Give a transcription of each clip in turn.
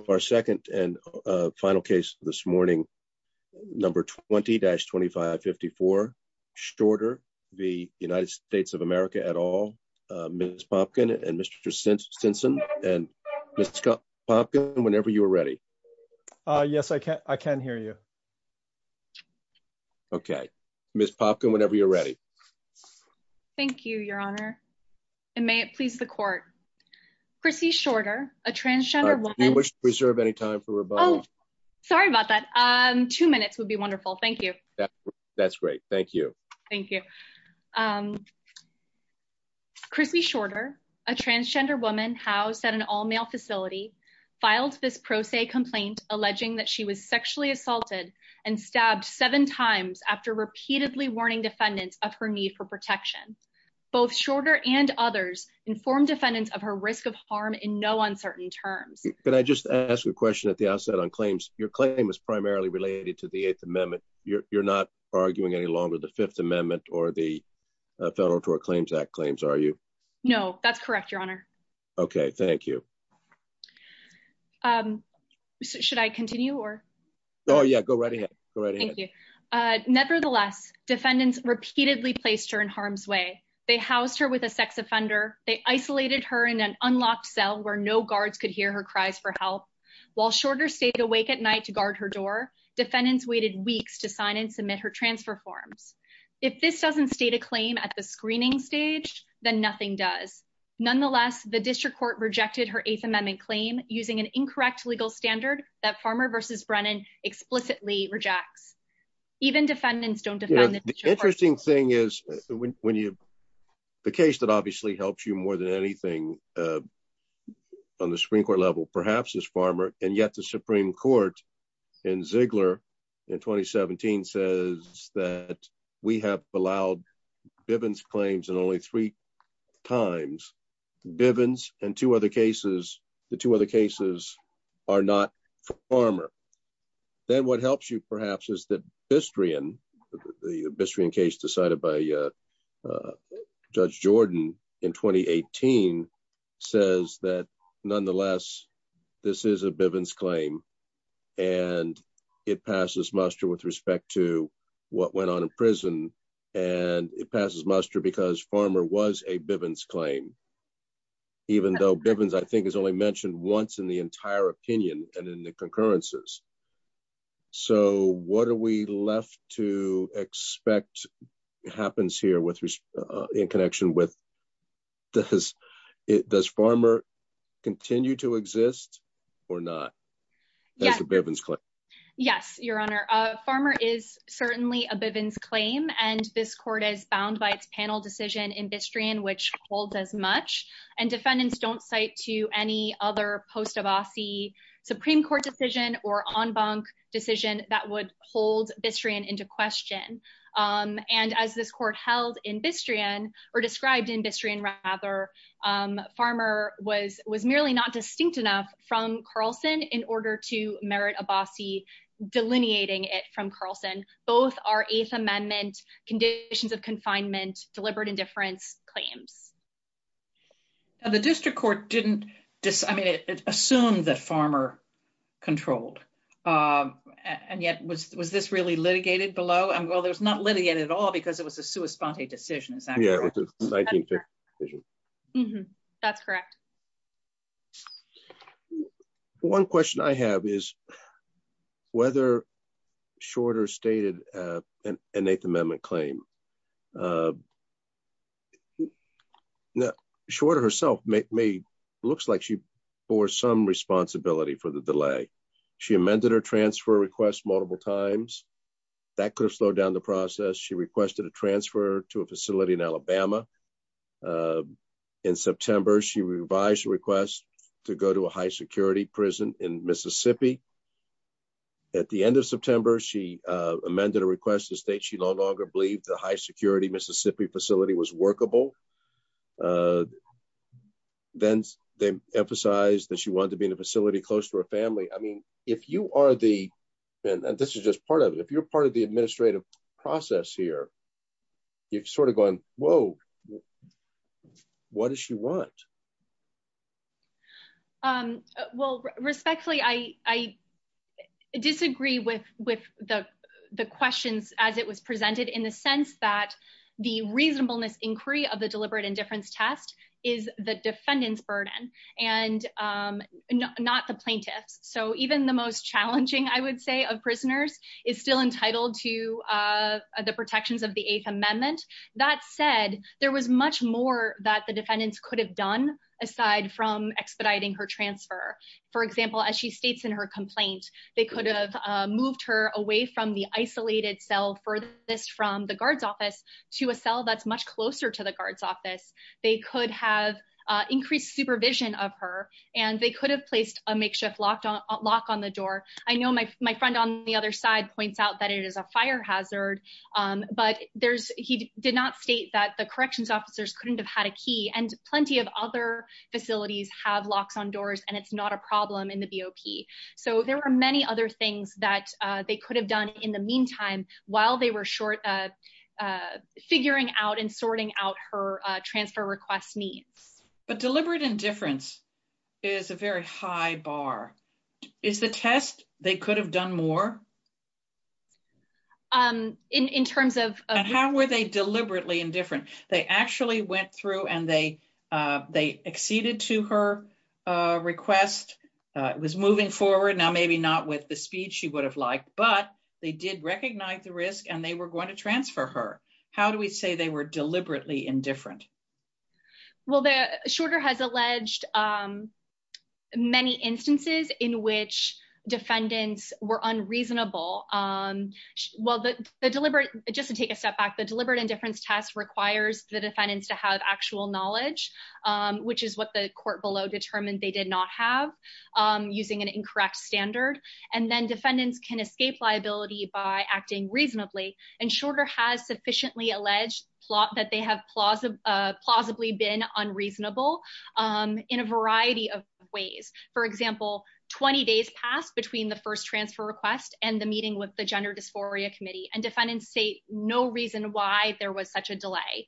of our second and final case this morning, number 20-2554, Shorter v. United States of America et al., Ms. Popkin and Mr. Simpson, and Ms. Popkin, whenever you are ready. Yes, I can hear you. Okay. Ms. Popkin, whenever you're ready. Thank you, Your Honor, and may it please the court. Chrissy Shorter, a transgender woman. Do you wish to reserve any time for rebuttal? Oh, sorry about that. Two minutes would be wonderful. Thank you. That's great. Thank you. Thank you. Chrissy Shorter, a transgender woman housed at an all-male facility, filed this pro se complaint alleging that she was sexually assaulted and stabbed seven times after repeatedly warning defendants of her need for protection. Both Shorter and others informed defendants of her risk of harm in no uncertain terms. Can I just ask a question at the outset on claims? Your claim is primarily related to the Eighth Amendment. You're not arguing any longer the Fifth Amendment or the Federal Tort Claims Act claims, are you? No, that's correct, Your Honor. Okay. Thank you. Should I continue or? Oh, yeah. Go right ahead. Go right ahead. Thank you. Nevertheless, defendants repeatedly placed her in harm's way. They housed her with a sex offender. They isolated her in an unlocked cell where no guards could hear her cries for help. While Shorter stayed awake at night to guard her door, defendants waited weeks to sign and submit her transfer forms. If this doesn't state a claim at the screening stage, then nothing does. Nonetheless, the district court rejected her Eighth Amendment claim using an incorrect legal standard that Farmer v. Brennan explicitly rejects. Even defendants don't defend the district court. Yeah. The interesting thing is when you, the case that obviously helps you more than anything on the Supreme Court level perhaps is Farmer, and yet the Supreme Court in Ziegler in 2017 says that we have allowed Bivens claims in only three times, Bivens and two other cases, the two other cases are not Farmer. Then what helps you perhaps is that Bistrian, the Bistrian case decided by Judge Jordan in 2018 says that nonetheless, this is a Bivens claim, and it passes muster with respect to what went on in prison, and it passes muster because Farmer was a Bivens claim, even though Bivens I think is only mentioned once in the entire opinion and in the concurrences. So what are we left to expect happens here in connection with, does Farmer continue to exist or not as a Bivens claim? Yes, Your Honor. Farmer is certainly a Bivens claim, and this court is bound by its panel decision in Bistrian which holds as much, and defendants don't cite to any other post-Abbasi Supreme Court decision or en banc decision that would hold Bistrian into question. And as this court held in Bistrian, or described in Bistrian rather, Farmer was merely not distinct enough from Carlson in order to merit Abbasi delineating it from Carlson. Both are Eighth Amendment conditions of confinement, deliberate indifference claims. The district court didn't, I mean, it assumed that Farmer controlled, and yet was this really litigated below? Well, it was not litigated at all because it was a sua sponte decision, is that correct? Yeah. That's correct. Mm-hmm. That's correct. One question I have is whether Shorter stated an Eighth Amendment claim. Now, Shorter herself looks like she bore some responsibility for the delay. She amended her transfer request multiple times. That could have slowed down the process. She requested a transfer to a facility in Alabama in September. She revised the request to go to a high security prison in Mississippi. At the end of September, she amended a request to state she no longer believed the high security Mississippi facility was workable. Then they emphasized that she wanted to be in a facility close to her family. I mean, if you are the, and this is just part of it, if you're part of the administrative process here, you're sort of going, whoa, what does she want? Well, respectfully, I disagree with the questions as it was presented in the sense that the reasonableness inquiry of the deliberate indifference test is the defendant's burden and not the plaintiff's. So even the most challenging, I would say, of prisoners is still entitled to the protections of the Eighth Amendment. That said, there was much more that the defendants could have done aside from expediting her transfer. For example, as she states in her complaint, they could have moved her away from the isolated cell furthest from the guard's office to a cell that's much closer to the guard's office. They could have increased supervision of her and they could have placed a makeshift lockdown lock on the door. I know my friend on the other side points out that it is a fire hazard, but he did not state that the corrections officers couldn't have had a key and plenty of other facilities have locks on doors and it's not a problem in the BOP. So there were many other things that they could have done in the meantime while they were short of figuring out and sorting out her transfer request needs. But deliberate indifference is a very high bar. Is the test they could have done more? In terms of- And how were they deliberately indifferent? They actually went through and they acceded to her request, was moving forward, now maybe not with the speed she would have liked, but they did recognize the risk and they were going to transfer her. How do we say they were deliberately indifferent? Well, Shorter has alleged many instances in which defendants were unreasonable. Well, just to take a step back, the deliberate indifference test requires the defendants to have actual knowledge, which is what the court below determined they did not have using an incorrect standard. And then defendants can escape liability by acting reasonably and Shorter has sufficiently alleged that they have plausibly been unreasonable in a variety of ways. For example, 20 days passed between the first transfer request and the meeting with the Gender Dysphoria Committee and defendants say no reason why there was such a delay.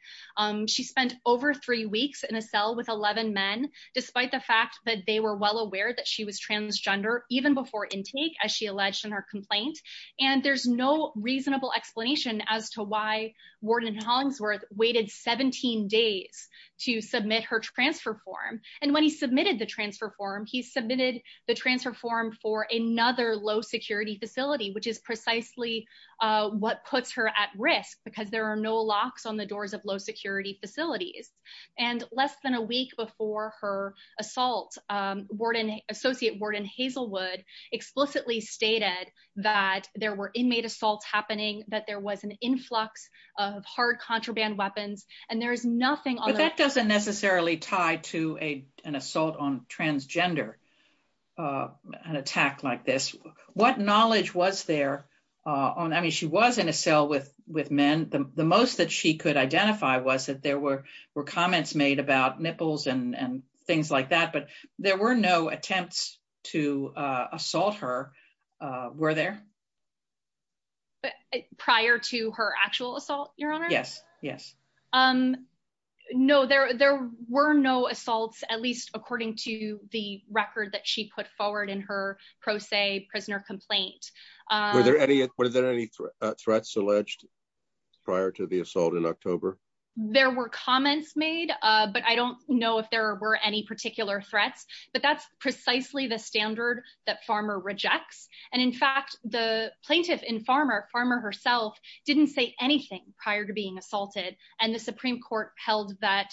She spent over three weeks in a cell with 11 men, despite the fact that they were well aware that she was transgender even before intake, as she alleged in her complaint. And there's no reasonable explanation as to why Warden Hollingsworth waited 17 days to submit her transfer form. And when he submitted the transfer form, he submitted the transfer form for another low security facility, which is precisely what puts her at risk because there are no locks on the doors of low security facilities. And less than a week before her assault, Associate Warden Hazelwood explicitly stated that there were inmate assaults happening, that there was an influx of hard contraband weapons, and there is nothing on that doesn't necessarily tie to a an assault on transgender. An attack like this, what knowledge was there on? I mean, she was in a cell with with men. The most that she could identify was that there were were comments made about nipples and things like that. But there were no attempts to assault her, were there? But prior to her actual assault, your honor, yes, yes. No, there there were no assaults, at least according to the record that she put forward in her pro se prisoner complaint. Were there any were there any threats alleged prior to the assault in October? There were comments made, but I don't know if there were any particular threats, but that's precisely the standard that Farmer rejects. And in fact, the plaintiff in Farmer Farmer herself didn't say anything prior to being assaulted. And the Supreme Court held that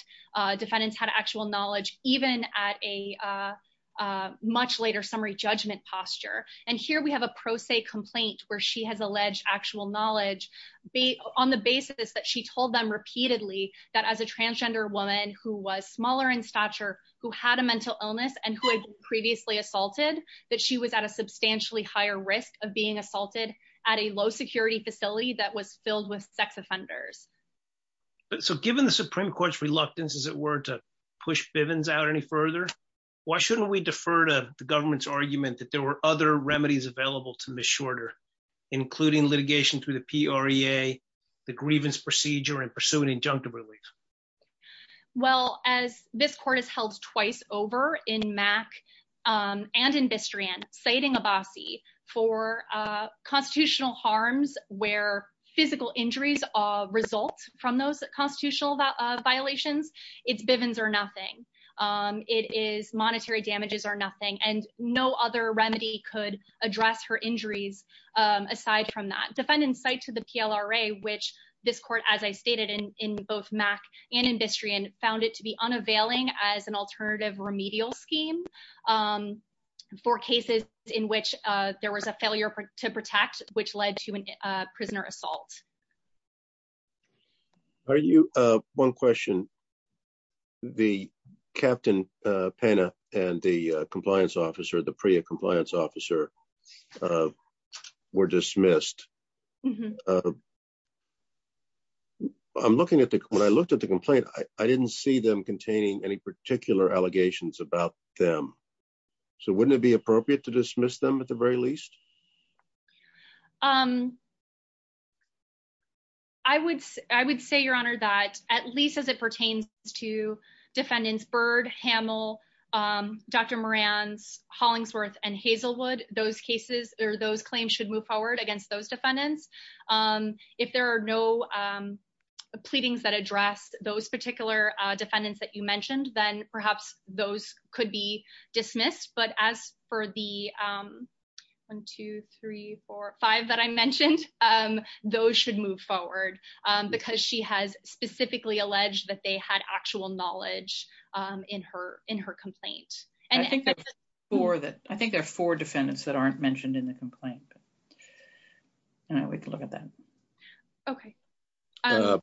defendants had actual knowledge, even at a much later summary judgment posture. And here we have a pro se complaint where she has alleged actual knowledge on the basis that she told them repeatedly that as a transgender woman who was smaller in stature, who had a mental illness and who had previously assaulted, that she was at a substantially higher risk of being assaulted at a low security facility that was filled with sex offenders. So given the Supreme Court's reluctance, as it were, to push Bivens out any further, why shouldn't we defer to the government's argument that there were other ways to pursue this procedure and pursue an injunctive relief? Well, as this court is held twice over in Mac and in Bistrian, citing Abbasi for constitutional harms where physical injuries result from those constitutional violations, it's Bivens or nothing. It is monetary damages or nothing. And no other remedy could address her injuries aside from that. Defendants cite to the PLRA, which this court, as I stated in both Mac and in Bistrian, found it to be unavailing as an alternative remedial scheme for cases in which there was a failure to protect, which led to a prisoner assault. Are you one question? The Captain Pena and the compliance officer, the PRIA compliance officer, were dismissed. I'm looking at the when I looked at the complaint, I didn't see them containing any particular allegations about them. So wouldn't it be appropriate to dismiss them at the very least? I would I would say, your honor, that at least as it pertains to defendants, Byrd, Hamill, Dr. Moran's, Hollingsworth and Hazelwood, those cases or those claims should move forward against those defendants. If there are no pleadings that address those particular defendants that you mentioned, then perhaps those could be dismissed. But as for the one, two, three, four, five that I mentioned, those should move forward because she has specifically alleged that they had actual knowledge in her in her complaint. And I think that's for that. I think there are four defendants that aren't mentioned in the complaint. And I would look at that. OK. I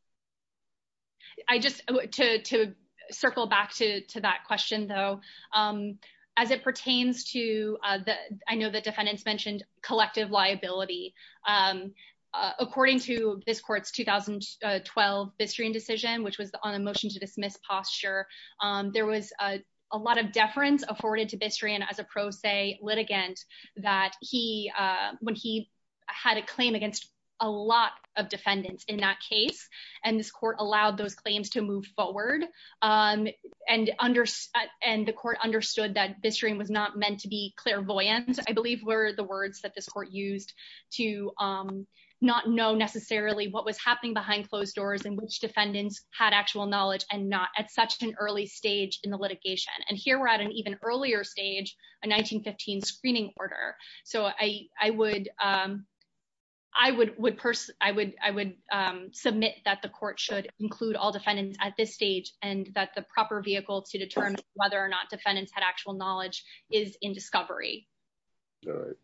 just to circle back to to that question, though, as it pertains to the I know the defendants mentioned collective liability. According to this court's 2012 Bistrian decision, which was on a motion to dismiss posture, there was a lot of deference afforded to Bistrian as a pro se litigant that he when he had a claim against a lot of defendants in that case and this court allowed those claims to move forward and under and the court understood that Bistrian was not meant to be clairvoyant. I believe were the words that this court used to not know necessarily what was happening behind closed doors and which defendants had actual knowledge and not at such an early stage in the litigation. And here we're at an even earlier stage, a 1915 screening order. So I would I would would I would I would submit that the court should include all defendants at this stage and that the proper vehicle to determine whether or not defendants had actual knowledge is in discovery. All right.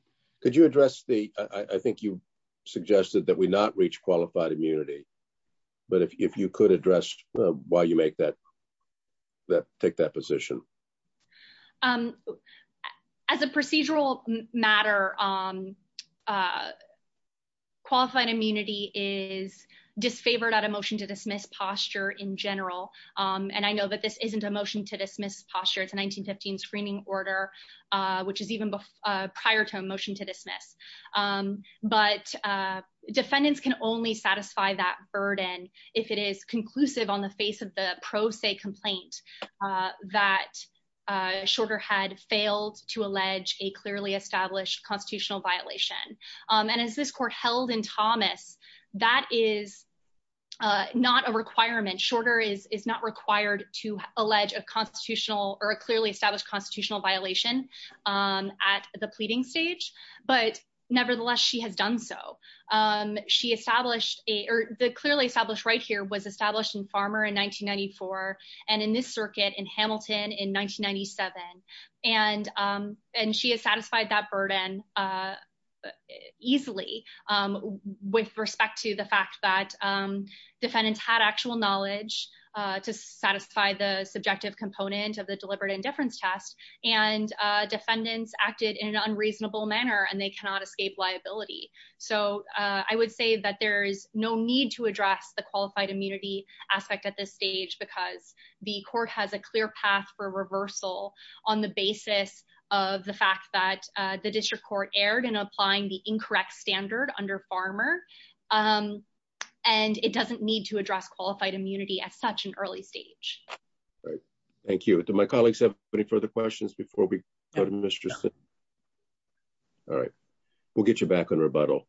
Could you address the I think you suggested that we not reach qualified immunity, but if you could address why you make that. That take that position as a procedural matter, qualified immunity is disfavored at a motion to dismiss posture in general, and I know that this isn't a motion to dismiss posture. It's a 1915 screening order, which is even prior to a motion to dismiss. But defendants can only satisfy that burden if it is conclusive on the face of the pro se complaint that Shorter had failed to allege a clearly established constitutional violation. And as this court held in Thomas, that is not a requirement. Shorter is is not required to allege a constitutional or a clearly established constitutional violation at the pleading stage. But nevertheless, she has done so. She established a clearly established right here was established in Farmer in 1994 and in this circuit in Hamilton in 1997. And and she has satisfied that burden easily with respect to the fact that defendants had actual knowledge to satisfy the subjective component of the deliberate indifference test and defendants acted in an unreasonable manner and they cannot escape liability. So I would say that there is no need to address the qualified immunity aspect at this stage because the court has a clear path for reversal on the basis of the fact that the district court erred in applying the incorrect standard under Farmer and it doesn't need to address qualified immunity at such an early stage. All right. Thank you. Do my colleagues have any further questions before we go to Mr. All right, we'll get you back on rebuttal.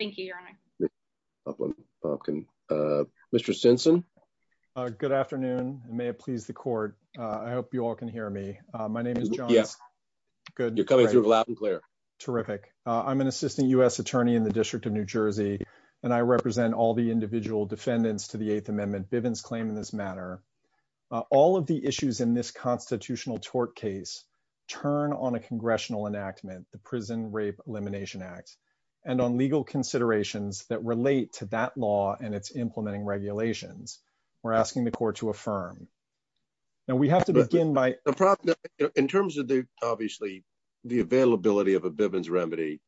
Thank you, Your Honor. Mr. Simpson. Good afternoon. May it please the court. I hope you all can hear me. My name is John. Yes. Good. You're coming through loud and clear. Terrific. I'm an assistant U.S. defendant's to the Eighth Amendment Bivens claim in this matter. All of the issues in this constitutional tort case turn on a congressional enactment, the Prison Rape Elimination Act, and on legal considerations that relate to that law and its implementing regulations. We're asking the court to affirm. Now, we have to begin by the problem in terms of the obviously the availability of a Bivens remedy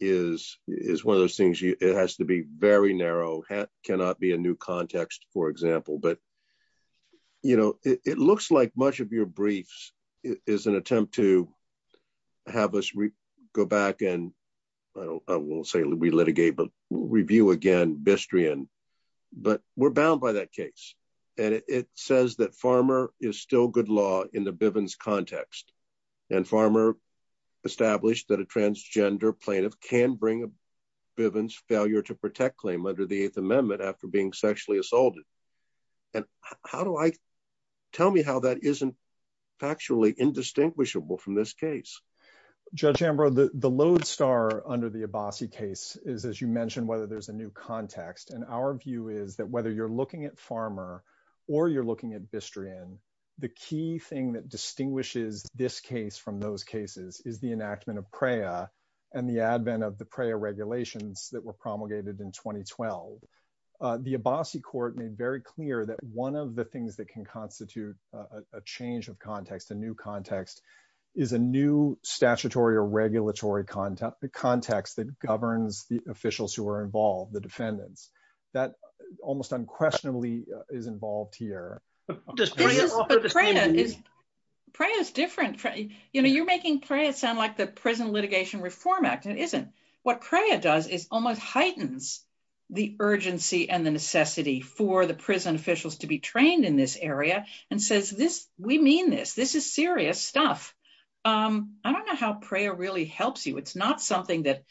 is is one of those things. It has to be very narrow, cannot be a new context, for example. But, you know, it looks like much of your briefs is an attempt to have us go back and I don't I won't say we litigate, but review again Bistrian. But we're bound by that case. And it says that Farmer is still good law in the Bivens context. And Farmer established that a transgender plaintiff can bring a Bivens failure to protect claim under the Eighth Amendment after being sexually assaulted. And how do I tell me how that isn't factually indistinguishable from this case? Judge Ambrose, the lodestar under the Abbasi case is, as you mentioned, whether there's a new context. And our view is that whether you're looking at Farmer or you're looking at Bistrian, the key thing that distinguishes this case from those cases is the enactment of PREA and the advent of the PREA regulations that were promulgated in 2012. The Abbasi court made very clear that one of the things that can constitute a change of context, a new context, is a new statutory or regulatory context that governs the officials who are involved, the defendants. That almost unquestionably is involved here. Does PREA offer the same meaning? PREA is different. You know, you're making PREA sound like the Prison Litigation Reform Act. It isn't. What PREA does is almost heightens the urgency and the necessity for the prison officials to be trained in this area and says, we mean this. This is serious stuff. I don't know how PREA really helps you. It's not something that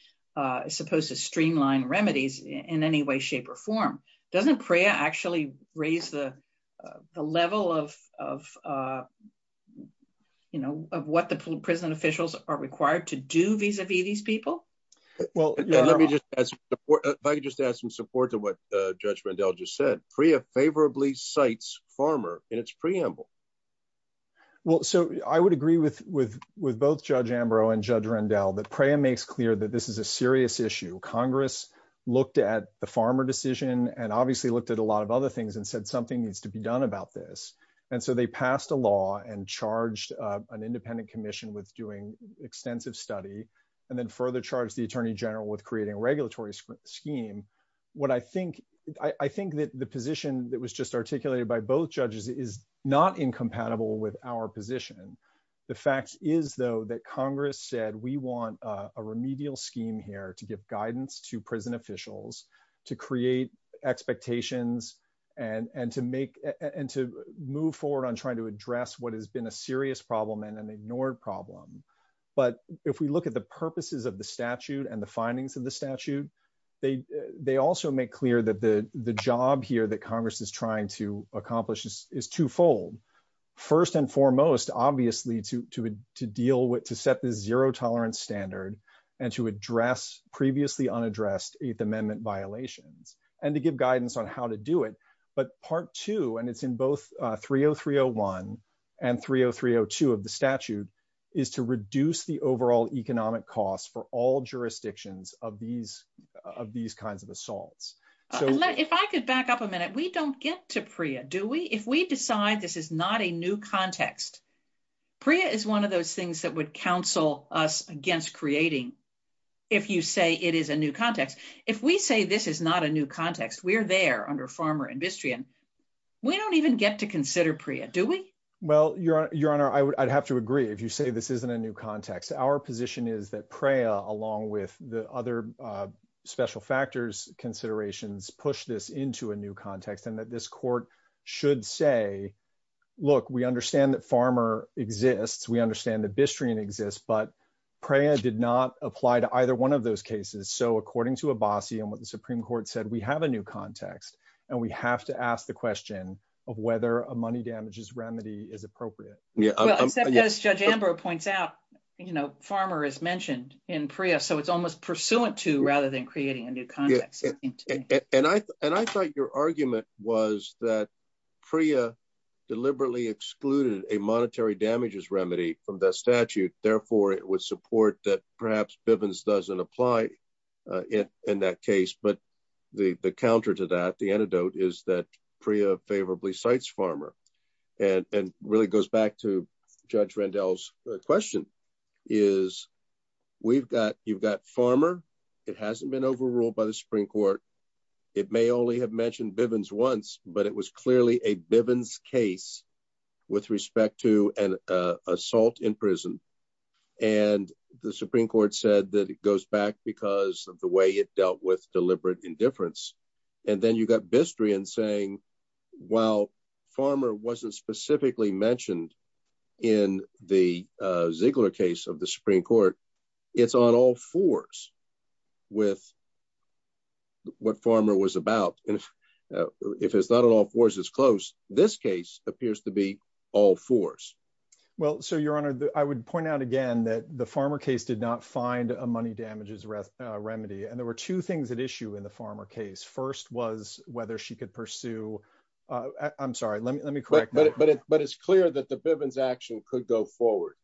is supposed to streamline remedies in any way, shape or form. Doesn't PREA actually raise the level of, you know, of what the prison officials are required to do vis-a-vis these people? Well, let me just ask, if I could just add some support to what Judge Rendell just said, PREA favorably cites Farmer in its preamble. Well, so I would agree with both Judge Ambrose and Judge Rendell that PREA makes clear that this is a serious issue. Congress looked at the Farmer decision and obviously looked at a lot of other things and said something needs to be done about this. And so they passed a law and charged an independent commission with doing extensive study and then further charged the attorney general with creating a regulatory scheme. What I think I think that the position that was just articulated by both judges is not incompatible with our position. The fact is, though, that Congress said we want a remedial scheme here to give guidance to prison officials, to create expectations and to move forward on trying to address what has been a serious problem and an ignored problem. But if we look at the purposes of the statute and the findings of the statute, they also make clear that the job here that Congress is trying to accomplish is twofold. First and foremost, obviously, to deal with to set the zero tolerance standard and to address previously unaddressed Eighth Amendment violations and to give guidance on how to do it. But part two, and it's in both 30301 and 30302 of the statute, is to reduce the overall economic costs for all jurisdictions of these of these kinds of assaults. If I could back up a minute, we don't get to PREA, do we? If we decide this is not a new context, PREA is one of those things that would counsel us against creating. If you say it is a new context, if we say this is not a new context, we're there under Farmer and Bistrian. We don't even get to consider PREA, do we? Well, Your Honor, I'd have to agree. If you say this isn't a new context, our position is that PREA, along with the other special factors considerations, push this into a new context and that this court should say, look, we understand that Farmer exists. We understand that Bistrian exists. But PREA did not apply to either one of those cases. So according to Abbasi and what the Supreme Court said, we have a new context and we have to ask the question of whether a money damages remedy is appropriate. Well, as Judge Ambrose points out, Farmer is mentioned in PREA, so it's almost pursuant to rather than creating a new context. And I thought your argument was that PREA deliberately excluded a monetary damages remedy from the statute. Therefore, it would support that perhaps Bivens doesn't apply in that case. But the counter to that, the antidote is that PREA favorably cites Farmer and really goes back to Judge Rendell's question is we've got you've got Farmer. It hasn't been overruled by the Supreme Court. It may only have mentioned Bivens once, but it was clearly a Bivens case with respect to an assault in prison. And the Supreme Court said that it goes back because of the way it dealt with deliberate indifference. And then you got Bistrian saying, well, Farmer wasn't specifically mentioned in the Ziegler case of the Supreme Court. It's on all fours with what Farmer was about. And if it's not on all fours, it's close. This case appears to be all fours. Well, so, Your Honor, I would point out again that the Farmer case did not find a money damages remedy. And there were two things at issue in the Farmer case. First was whether she could pursue I'm sorry. Let me let me correct. But it's clear that the Bivens action could go forward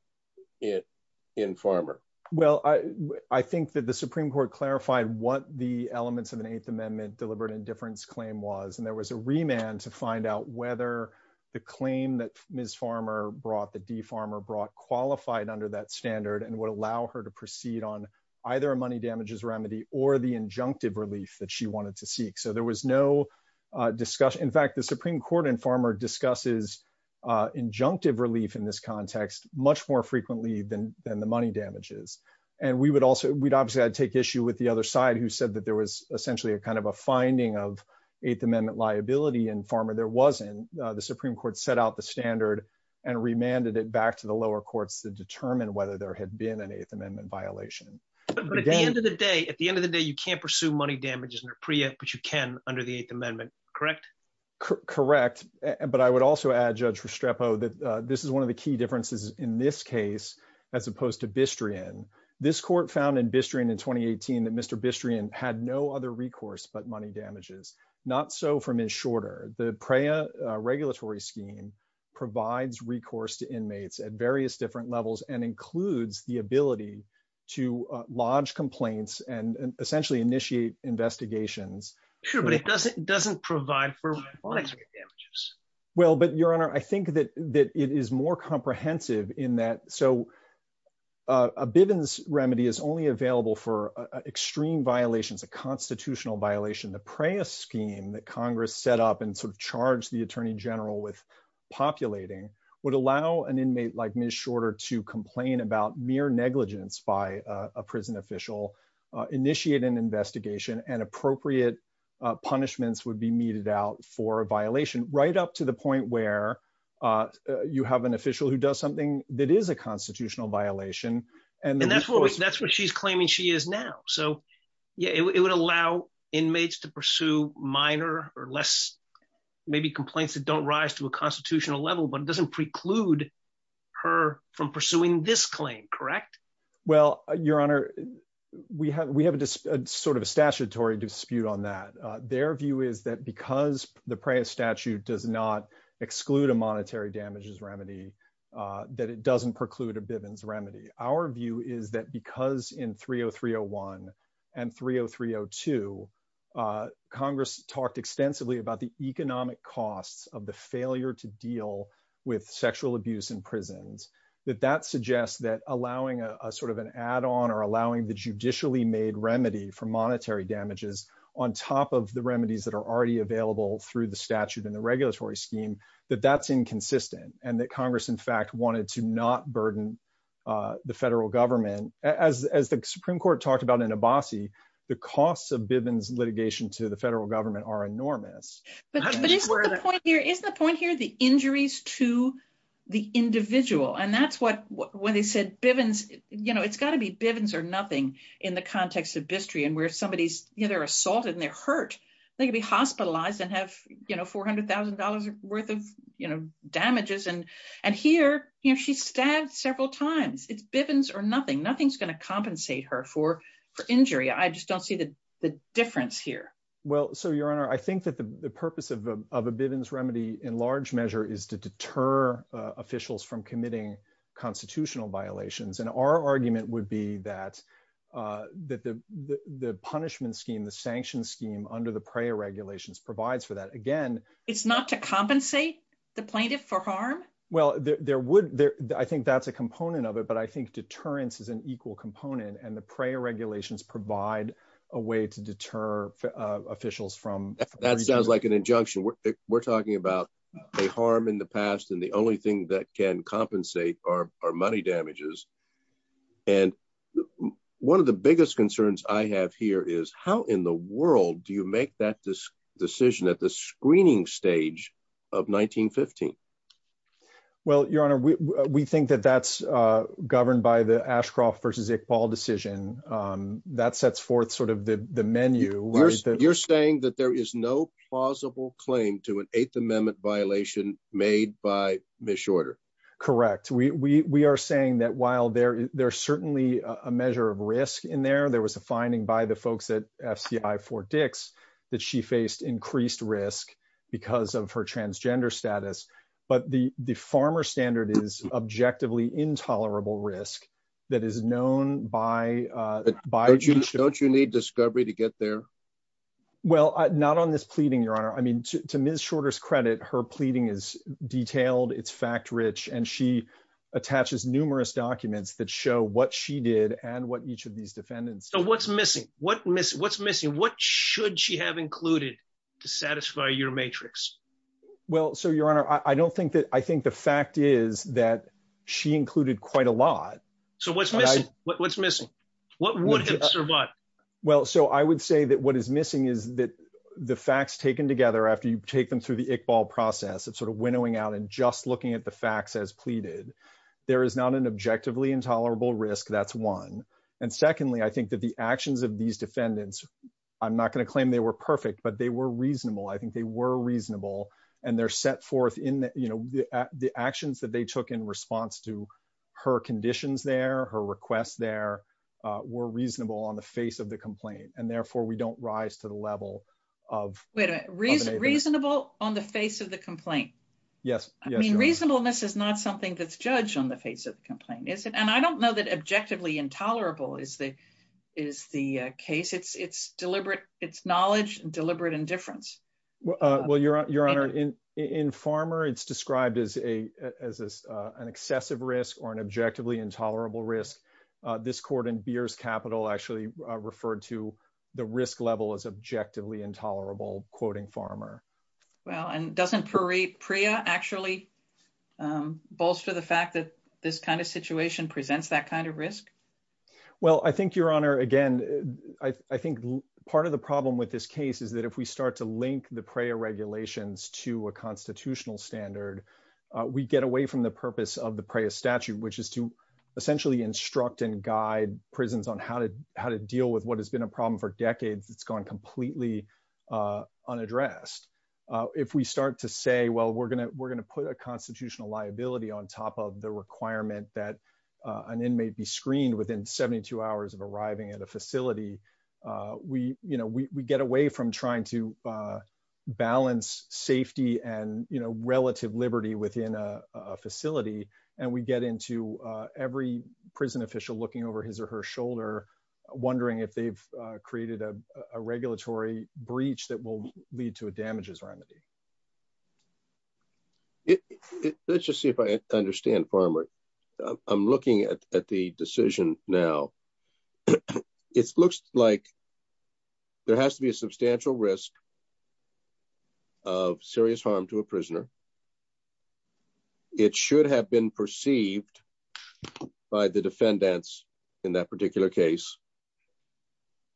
in Farmer. Well, I think that the Supreme Court clarified what the elements of an Eighth Amendment deliberate indifference claim was. And there was a remand to find out whether the claim that Ms. Farmer brought that Farmer brought qualified under that standard and would allow her to proceed on either a money damages remedy or the injunctive relief that she wanted to seek. So there was no discussion. In fact, the Supreme Court in Farmer discusses injunctive relief in this context much more frequently than than the money damages. And we would also we'd obviously take issue with the other side who said that there was essentially a kind of a finding of Eighth Amendment liability in Farmer. There wasn't. The Supreme Court set out the standard and remanded it back to the lower courts to determine whether there had been an Eighth Amendment violation. But at the end of the day, at the end of the day, you can't pursue money damages in a preempt, but you can under the Eighth Amendment, correct? Correct. But I would also add, Judge Restrepo, that this is one of the key differences in this case, as opposed to Bistrian. This court found in Bistrian in twenty eighteen that Mr. Bistrian had no other recourse but money damages, not so from his shorter. The PREA regulatory scheme provides recourse to inmates at various different levels and includes the ability to lodge complaints and essentially initiate investigations. Sure, but it doesn't doesn't provide for damages. Well, but your honor, I think that it is more comprehensive in that. So a Bivens remedy is only available for extreme violations, a constitutional violation. The PREA scheme that Congress set up and sort of charged the attorney general with populating would allow an inmate like Ms. Shorter to complain about mere negligence by a prison official, initiate an investigation and appropriate punishments would be meted out for a violation right up to the point where you have an official who does something that is a constitutional violation. And that's what that's what she's claiming she is now. So, yeah, it would allow inmates to pursue minor or less maybe complaints that don't rise to a constitutional level. But it doesn't preclude her from pursuing this claim, correct? Well, your honor, we have we have a sort of a statutory dispute on that. Their view is that because the PREA statute does not exclude a monetary damages remedy, that it doesn't preclude a Bivens remedy. Our view is that because in 30301 and 30302, Congress talked extensively about the economic costs of the failure to deal with sexual abuse in prisons, that that suggests that allowing a sort of an add on or allowing the judicially made remedy for monetary damages on top of the remedies that are already available through the statute and the regulatory scheme, that that's inconsistent and that Congress, in fact, wanted to not burden the federal government as the Supreme Court talked about in Abbasi. The costs of Bivens litigation to the federal government are enormous. But what is the point here is the point here, the injuries to the individual. And that's what when they said Bivens, you know, it's got to be Bivens or nothing in the context of Bistri and where somebody's either assaulted and they're hurt, they could be hospitalized and have, you know, four hundred thousand dollars worth of damages. And and here she's stabbed several times. It's Bivens or nothing. Nothing's going to compensate her for for injury. I just don't see the difference here. Well, so, your honor, I think that the purpose of a Bivens remedy in large measure is to reduce the cost of providing constitutional violations. And our argument would be that that the the punishment scheme, the sanction scheme under the prayer regulations provides for that. Again, it's not to compensate the plaintiff for harm. Well, there would. I think that's a component of it. But I think deterrence is an equal component. And the prayer regulations provide a way to deter officials from that sounds like an injunction. We're talking about a harm in the past. And the only thing that can compensate are money damages. And one of the biggest concerns I have here is how in the world do you make that this decision at the screening stage of 1915? Well, your honor, we think that that's governed by the Ashcroft versus Iqbal decision that sets forth sort of the menu. You're saying that there is no plausible claim to an Eighth Amendment violation made by Mishorder. Correct. We are saying that while there there's certainly a measure of risk in there, there was a finding by the folks at FCI for Dix that she faced increased risk because of her transgender status. But the the farmer standard is objectively intolerable risk that is known by by don't you need discovery to get there? Well, not on this pleading, your honor. I mean, to Miss Shorter's credit, her pleading is detailed. It's fact rich. And she attaches numerous documents that show what she did and what each of these defendants. So what's missing? What what's missing? What should she have included to satisfy your matrix? Well, so, your honor, I don't think that I think the fact is that she included quite a lot. So what's what's missing? What would have survived? Well, so I would say that what is missing is that the facts taken together after you take them through the Iqbal process of sort of winnowing out and just looking at the facts as pleaded, there is not an objectively intolerable risk. That's one. And secondly, I think that the actions of these defendants, I'm not going to claim they were perfect, but they were reasonable. I think they were reasonable. And they're set forth in the actions that they took in response to her conditions there, her requests there were reasonable on the face of the complaint. And therefore, we don't rise to the level of reasonable on the face of the complaint. Yes. I mean, reasonableness is not something that's judged on the face of the complaint, is it? And I don't know that objectively intolerable is the is the case. It's it's deliberate. It's knowledge, deliberate indifference. Well, your honor, in Farmer, it's described as a as an excessive risk or an objectively intolerable risk. This court in Beers Capital actually referred to the risk level as objectively intolerable, quoting Farmer. Well, and doesn't Priya actually bolster the fact that this kind of situation presents that kind of risk? Well, I think your honor, again, I think part of the problem with this case is that if we start to link the prior regulations to a constitutional standard, we get away from the essentially instruct and guide prisons on how to how to deal with what has been a problem for decades. It's gone completely unaddressed. If we start to say, well, we're going to we're going to put a constitutional liability on top of the requirement that an inmate be screened within 72 hours of arriving at a facility, we we get away from trying to balance safety and relative liberty within a two year time frame, well. So my question is, what does the witness process look like? When you say that you preserve the ok… We restrict the vision of the prisoners. So we restrict safety of the person. By the defendants in that particular case.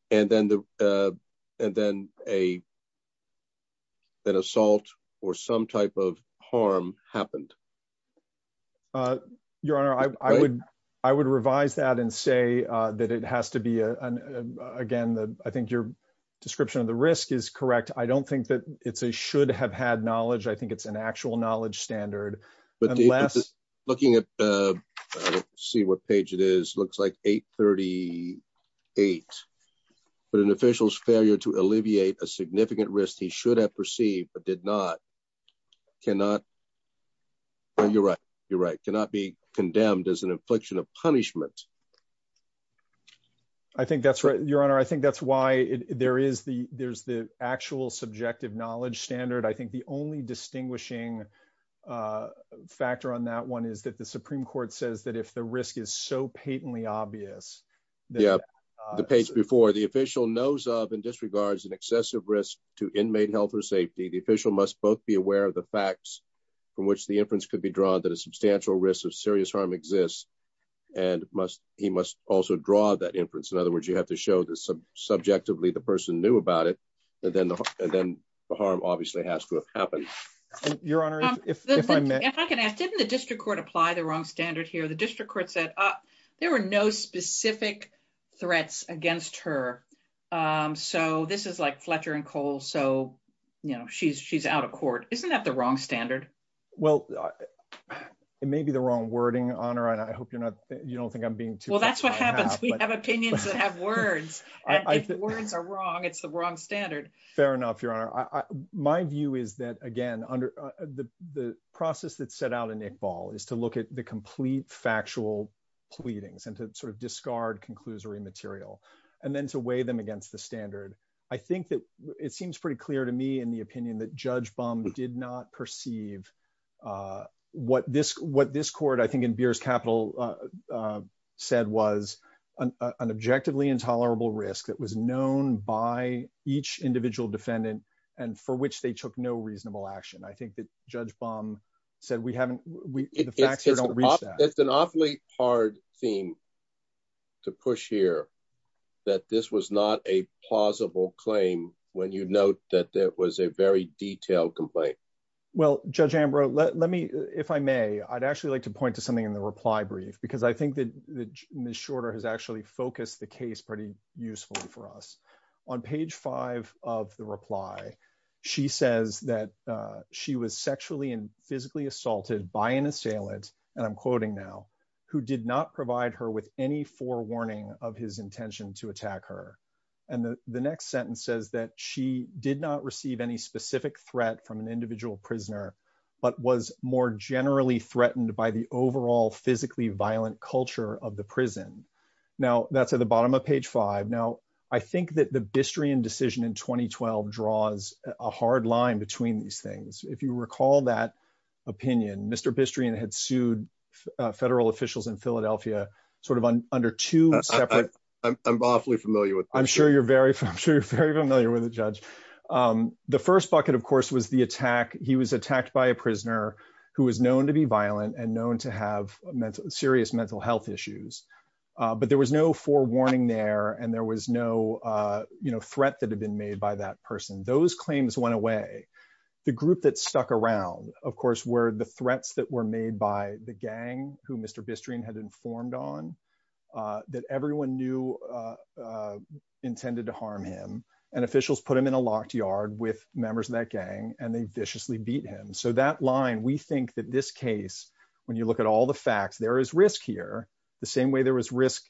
And then an assault or some type of harm happened. Your Honor, I would revise that and say that it has to be, again, I think your description of the risk is correct. I don't think that it's a should have had knowledge. I think it's an actual knowledge standard. But looking at, let's see what page it is, looks like 838. But an official's failure to alleviate a significant risk he should have perceived, but did not, cannot, you're right, you're right. Cannot be condemned as an infliction of punishment. I think that's right, your Honor. I think that's why there is the actual subjective knowledge standard. I think the only distinguishing factor on that one is that the Supreme Court says that if the risk is so patently obvious… Yeah, the page before. The official knows of and disregards an excessive risk to inmate health or safety. The official must both be aware of the facts from which the inference could be drawn that a substantial risk of serious harm exists. And he must also draw that inference. In other words, you have to show that subjectively the person knew about it. And then the harm obviously has to have happened. Your Honor, if I may. If I can ask, didn't the district court apply the wrong standard here? The district court said there were no specific threats against her. So this is like Fletcher and Cole. So, you know, she's out of court. Isn't that the wrong standard? Well, it may be the wrong wording, Honor. And I hope you're not, you don't think I'm being too… Well, that's what happens. We have opinions that have words. And if words are wrong, it's the wrong standard. Fair enough, Your Honor. My view is that, again, the process that's set out in Iqbal is to look at the complete factual pleadings and to sort of discard conclusory material and then to weigh them against the standard. I think that it seems pretty clear to me in the opinion that Judge Bum did not perceive what this court, I think in Beer's capital, said was an objectively intolerable risk that was known by each individual defendant and for which they took no reasonable action. I think that Judge Bum said we haven't, the facts don't reach that. It's an awfully hard theme to push here that this was not a plausible claim when you note that there was a very detailed complaint. Well, Judge Ambrose, let me, if I may, I'd actually like to point to something in the reply brief, because I think that Ms. Ambrose actually focused the case pretty usefully for us. On page five of the reply, she says that she was sexually and physically assaulted by an assailant, and I'm quoting now, who did not provide her with any forewarning of his intention to attack her, and the next sentence says that she did not receive any specific threat from an individual prisoner, but was more generally threatened by the overall physically violent culture of the That's at the bottom of page five. Now, I think that the Bistrian decision in 2012 draws a hard line between these things. If you recall that opinion, Mr. Bistrian had sued federal officials in Philadelphia, sort of under two separate. I'm awfully familiar with. I'm sure you're very familiar with it, Judge. The first bucket of course, was the attack. He was attacked by a prisoner who was known to be violent and known to have serious mental health issues. But there was no forewarning there, and there was no threat that had been made by that person. Those claims went away. The group that stuck around, of course, were the threats that were made by the gang who Mr. Bistrian had informed on, that everyone knew intended to harm him, and officials put him in a locked yard with members of that gang, and they viciously beat him. So that line, we think that this case, when you look at all the facts, there is risk here, the same way there was risk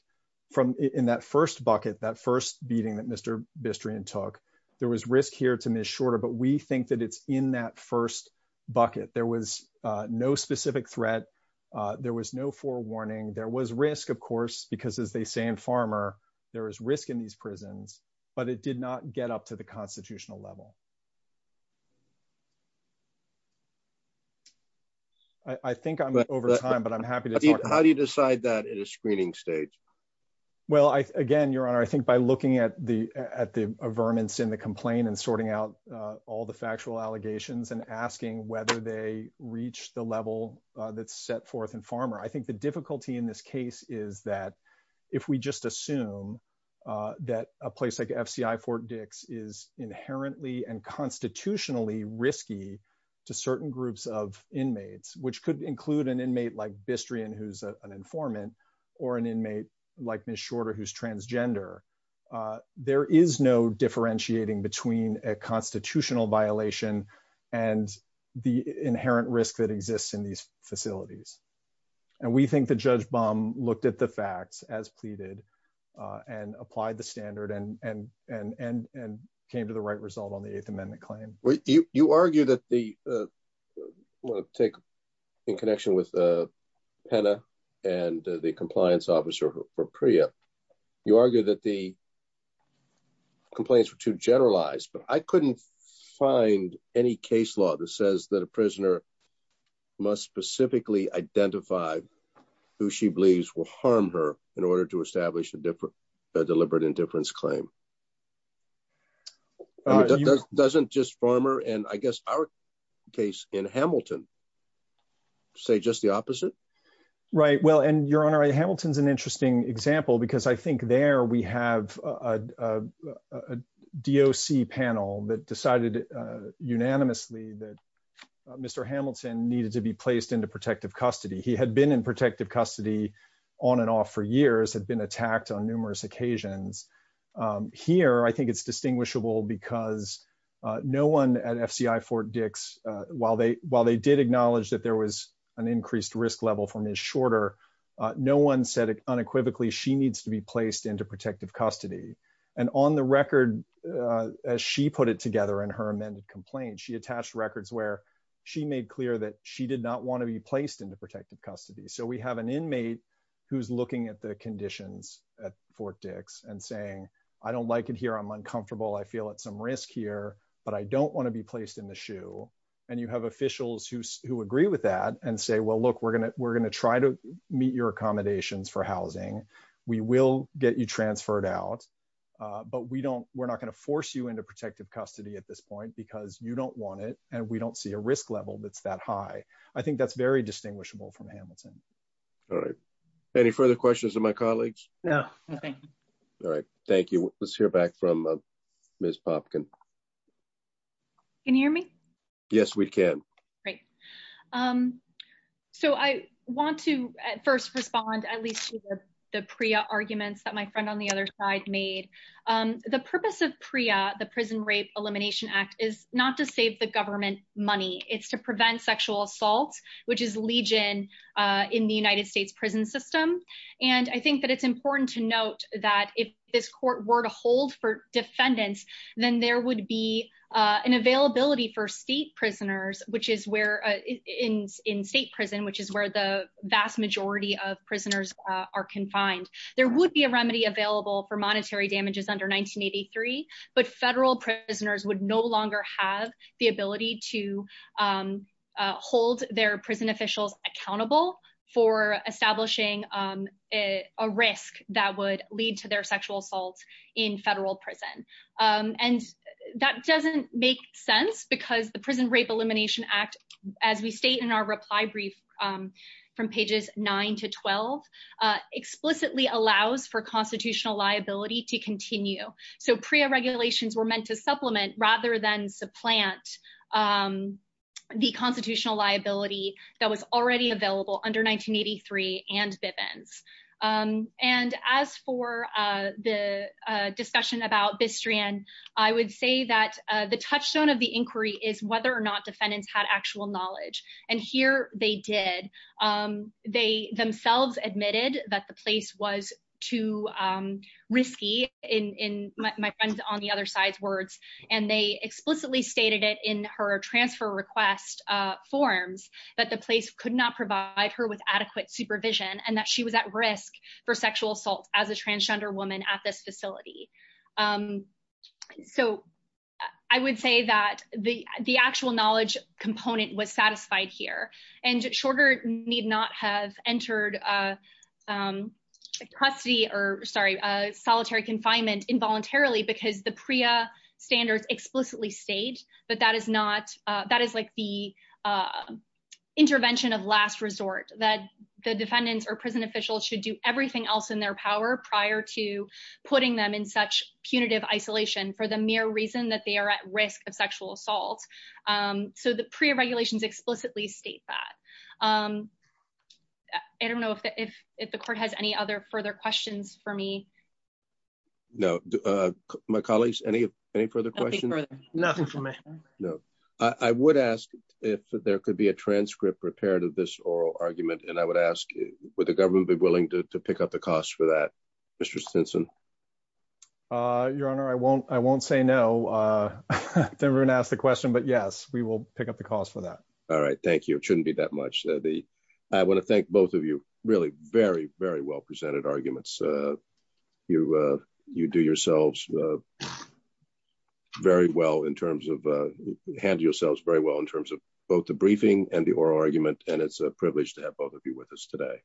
in that first bucket, that first beating that Mr. Bistrian took. There was risk here to Ms. Shorter, but we think that it's in that first bucket. There was no specific threat. There was no forewarning. There was risk, of course, because as they say in Farmer, there is risk in these prisons, but it did not get up to the constitutional level. I think I'm over time, but I'm happy to talk. How do you decide that in a screening stage? Well, again, Your Honor, I think by looking at the vermin in the complaint and sorting out all the factual allegations and asking whether they reach the level that's set forth in Farmer, I think the difficulty in this case is that if we just assume that a place like FCI Fort Dix is inherently and constitutionally risky to an informant or an inmate like Ms. Shorter, who's transgender, there is no differentiating between a constitutional violation and the inherent risk that exists in these facilities. And we think that Judge Baum looked at the facts as pleaded and applied the standard and came to the right result on the Eighth Amendment claim. You argue that the take in connection with Pena and the compliance officer for Priya, you argue that the. Complaints were too generalized, but I couldn't find any case law that says that a prisoner must specifically identify who she believes will harm her in order to establish a deliberate indifference claim. It doesn't just Farmer and I guess our case in Hamilton say just the opposite. Right. Well, and Your Honor, Hamilton's an interesting example because I think there we have a DOC panel that decided unanimously that Mr. Hamilton needed to be placed into protective custody. He had been in protective custody on and off for years, had been attacked on here. I think it's distinguishable because no one at FCI Fort Dix, while they while they did acknowledge that there was an increased risk level from his shorter, no one said unequivocally she needs to be placed into protective custody. And on the record, as she put it together in her amended complaint, she attached records where she made clear that she did not want to be placed into protective custody. So we have an inmate who's looking at the conditions at Fort Dix and saying, I don't like it here. I'm uncomfortable. I feel at some risk here, but I don't want to be placed in the shoe. And you have officials who who agree with that and say, well, look, we're going to we're going to try to meet your accommodations for housing. We will get you transferred out, but we don't we're not going to force you into protective custody at this point because you don't want it and we don't see a risk level that's that high. I think that's very distinguishable from Hamilton. All right. Any further questions of my colleagues? No. All right. Thank you. Let's hear back from Ms. Popkin. Can you hear me? Yes, we can. Right. So I want to first respond, at least to the PRIA arguments that my friend on the other side made. The purpose of PRIA, the Prison Rape Elimination Act, is not to save the government money. It's to prevent sexual assault, which is legion in the United States. It's important to note that if this court were to hold for defendants, then there would be an availability for state prisoners, which is where in in state prison, which is where the vast majority of prisoners are confined. There would be a remedy available for monetary damages under 1983. But federal prisoners would no longer have the ability to hold their prison officials accountable for establishing a risk that would lead to their sexual assaults in federal prison. And that doesn't make sense because the Prison Rape Elimination Act, as we state in our reply brief from pages nine to 12, explicitly allows for constitutional liability to continue. So PRIA regulations were meant to supplement rather than supplant the federal prison law, which was already available under 1983 and Bivens. And as for the discussion about Bistrian, I would say that the touchstone of the inquiry is whether or not defendants had actual knowledge. And here they did. They themselves admitted that the place was too risky, in my friend's on the other side's And they explicitly stated it in her transfer request forms that the place could not provide her with adequate supervision and that she was at risk for sexual assault as a transgender woman at this facility. So I would say that the the actual knowledge component was satisfied here. And Shorter need not have entered custody or sorry, solitary confinement involuntarily because the PRIA standards explicitly state that that is not that is like the intervention of last resort, that the defendants or prison officials should do everything else in their power prior to putting them in such punitive isolation for the mere reason that they are at risk of sexual assault. So the PRIA regulations explicitly state that. I don't know if the court has any other further questions for me. No, my colleagues, any any further questions, nothing for me. No, I would ask if there could be a transcript prepared of this oral argument. And I would ask, would the government be willing to pick up the cost for that, Mr. Stinson? Your Honor, I won't I won't say no. Everyone asked the question, but yes, we will pick up the cost for that. All right. Thank you. It shouldn't be that much. I want to thank both of you really very, very well presented arguments. You you do yourselves very well in terms of hand yourselves very well in terms of both the briefing and the oral argument. And it's a privilege to have both of you with us today.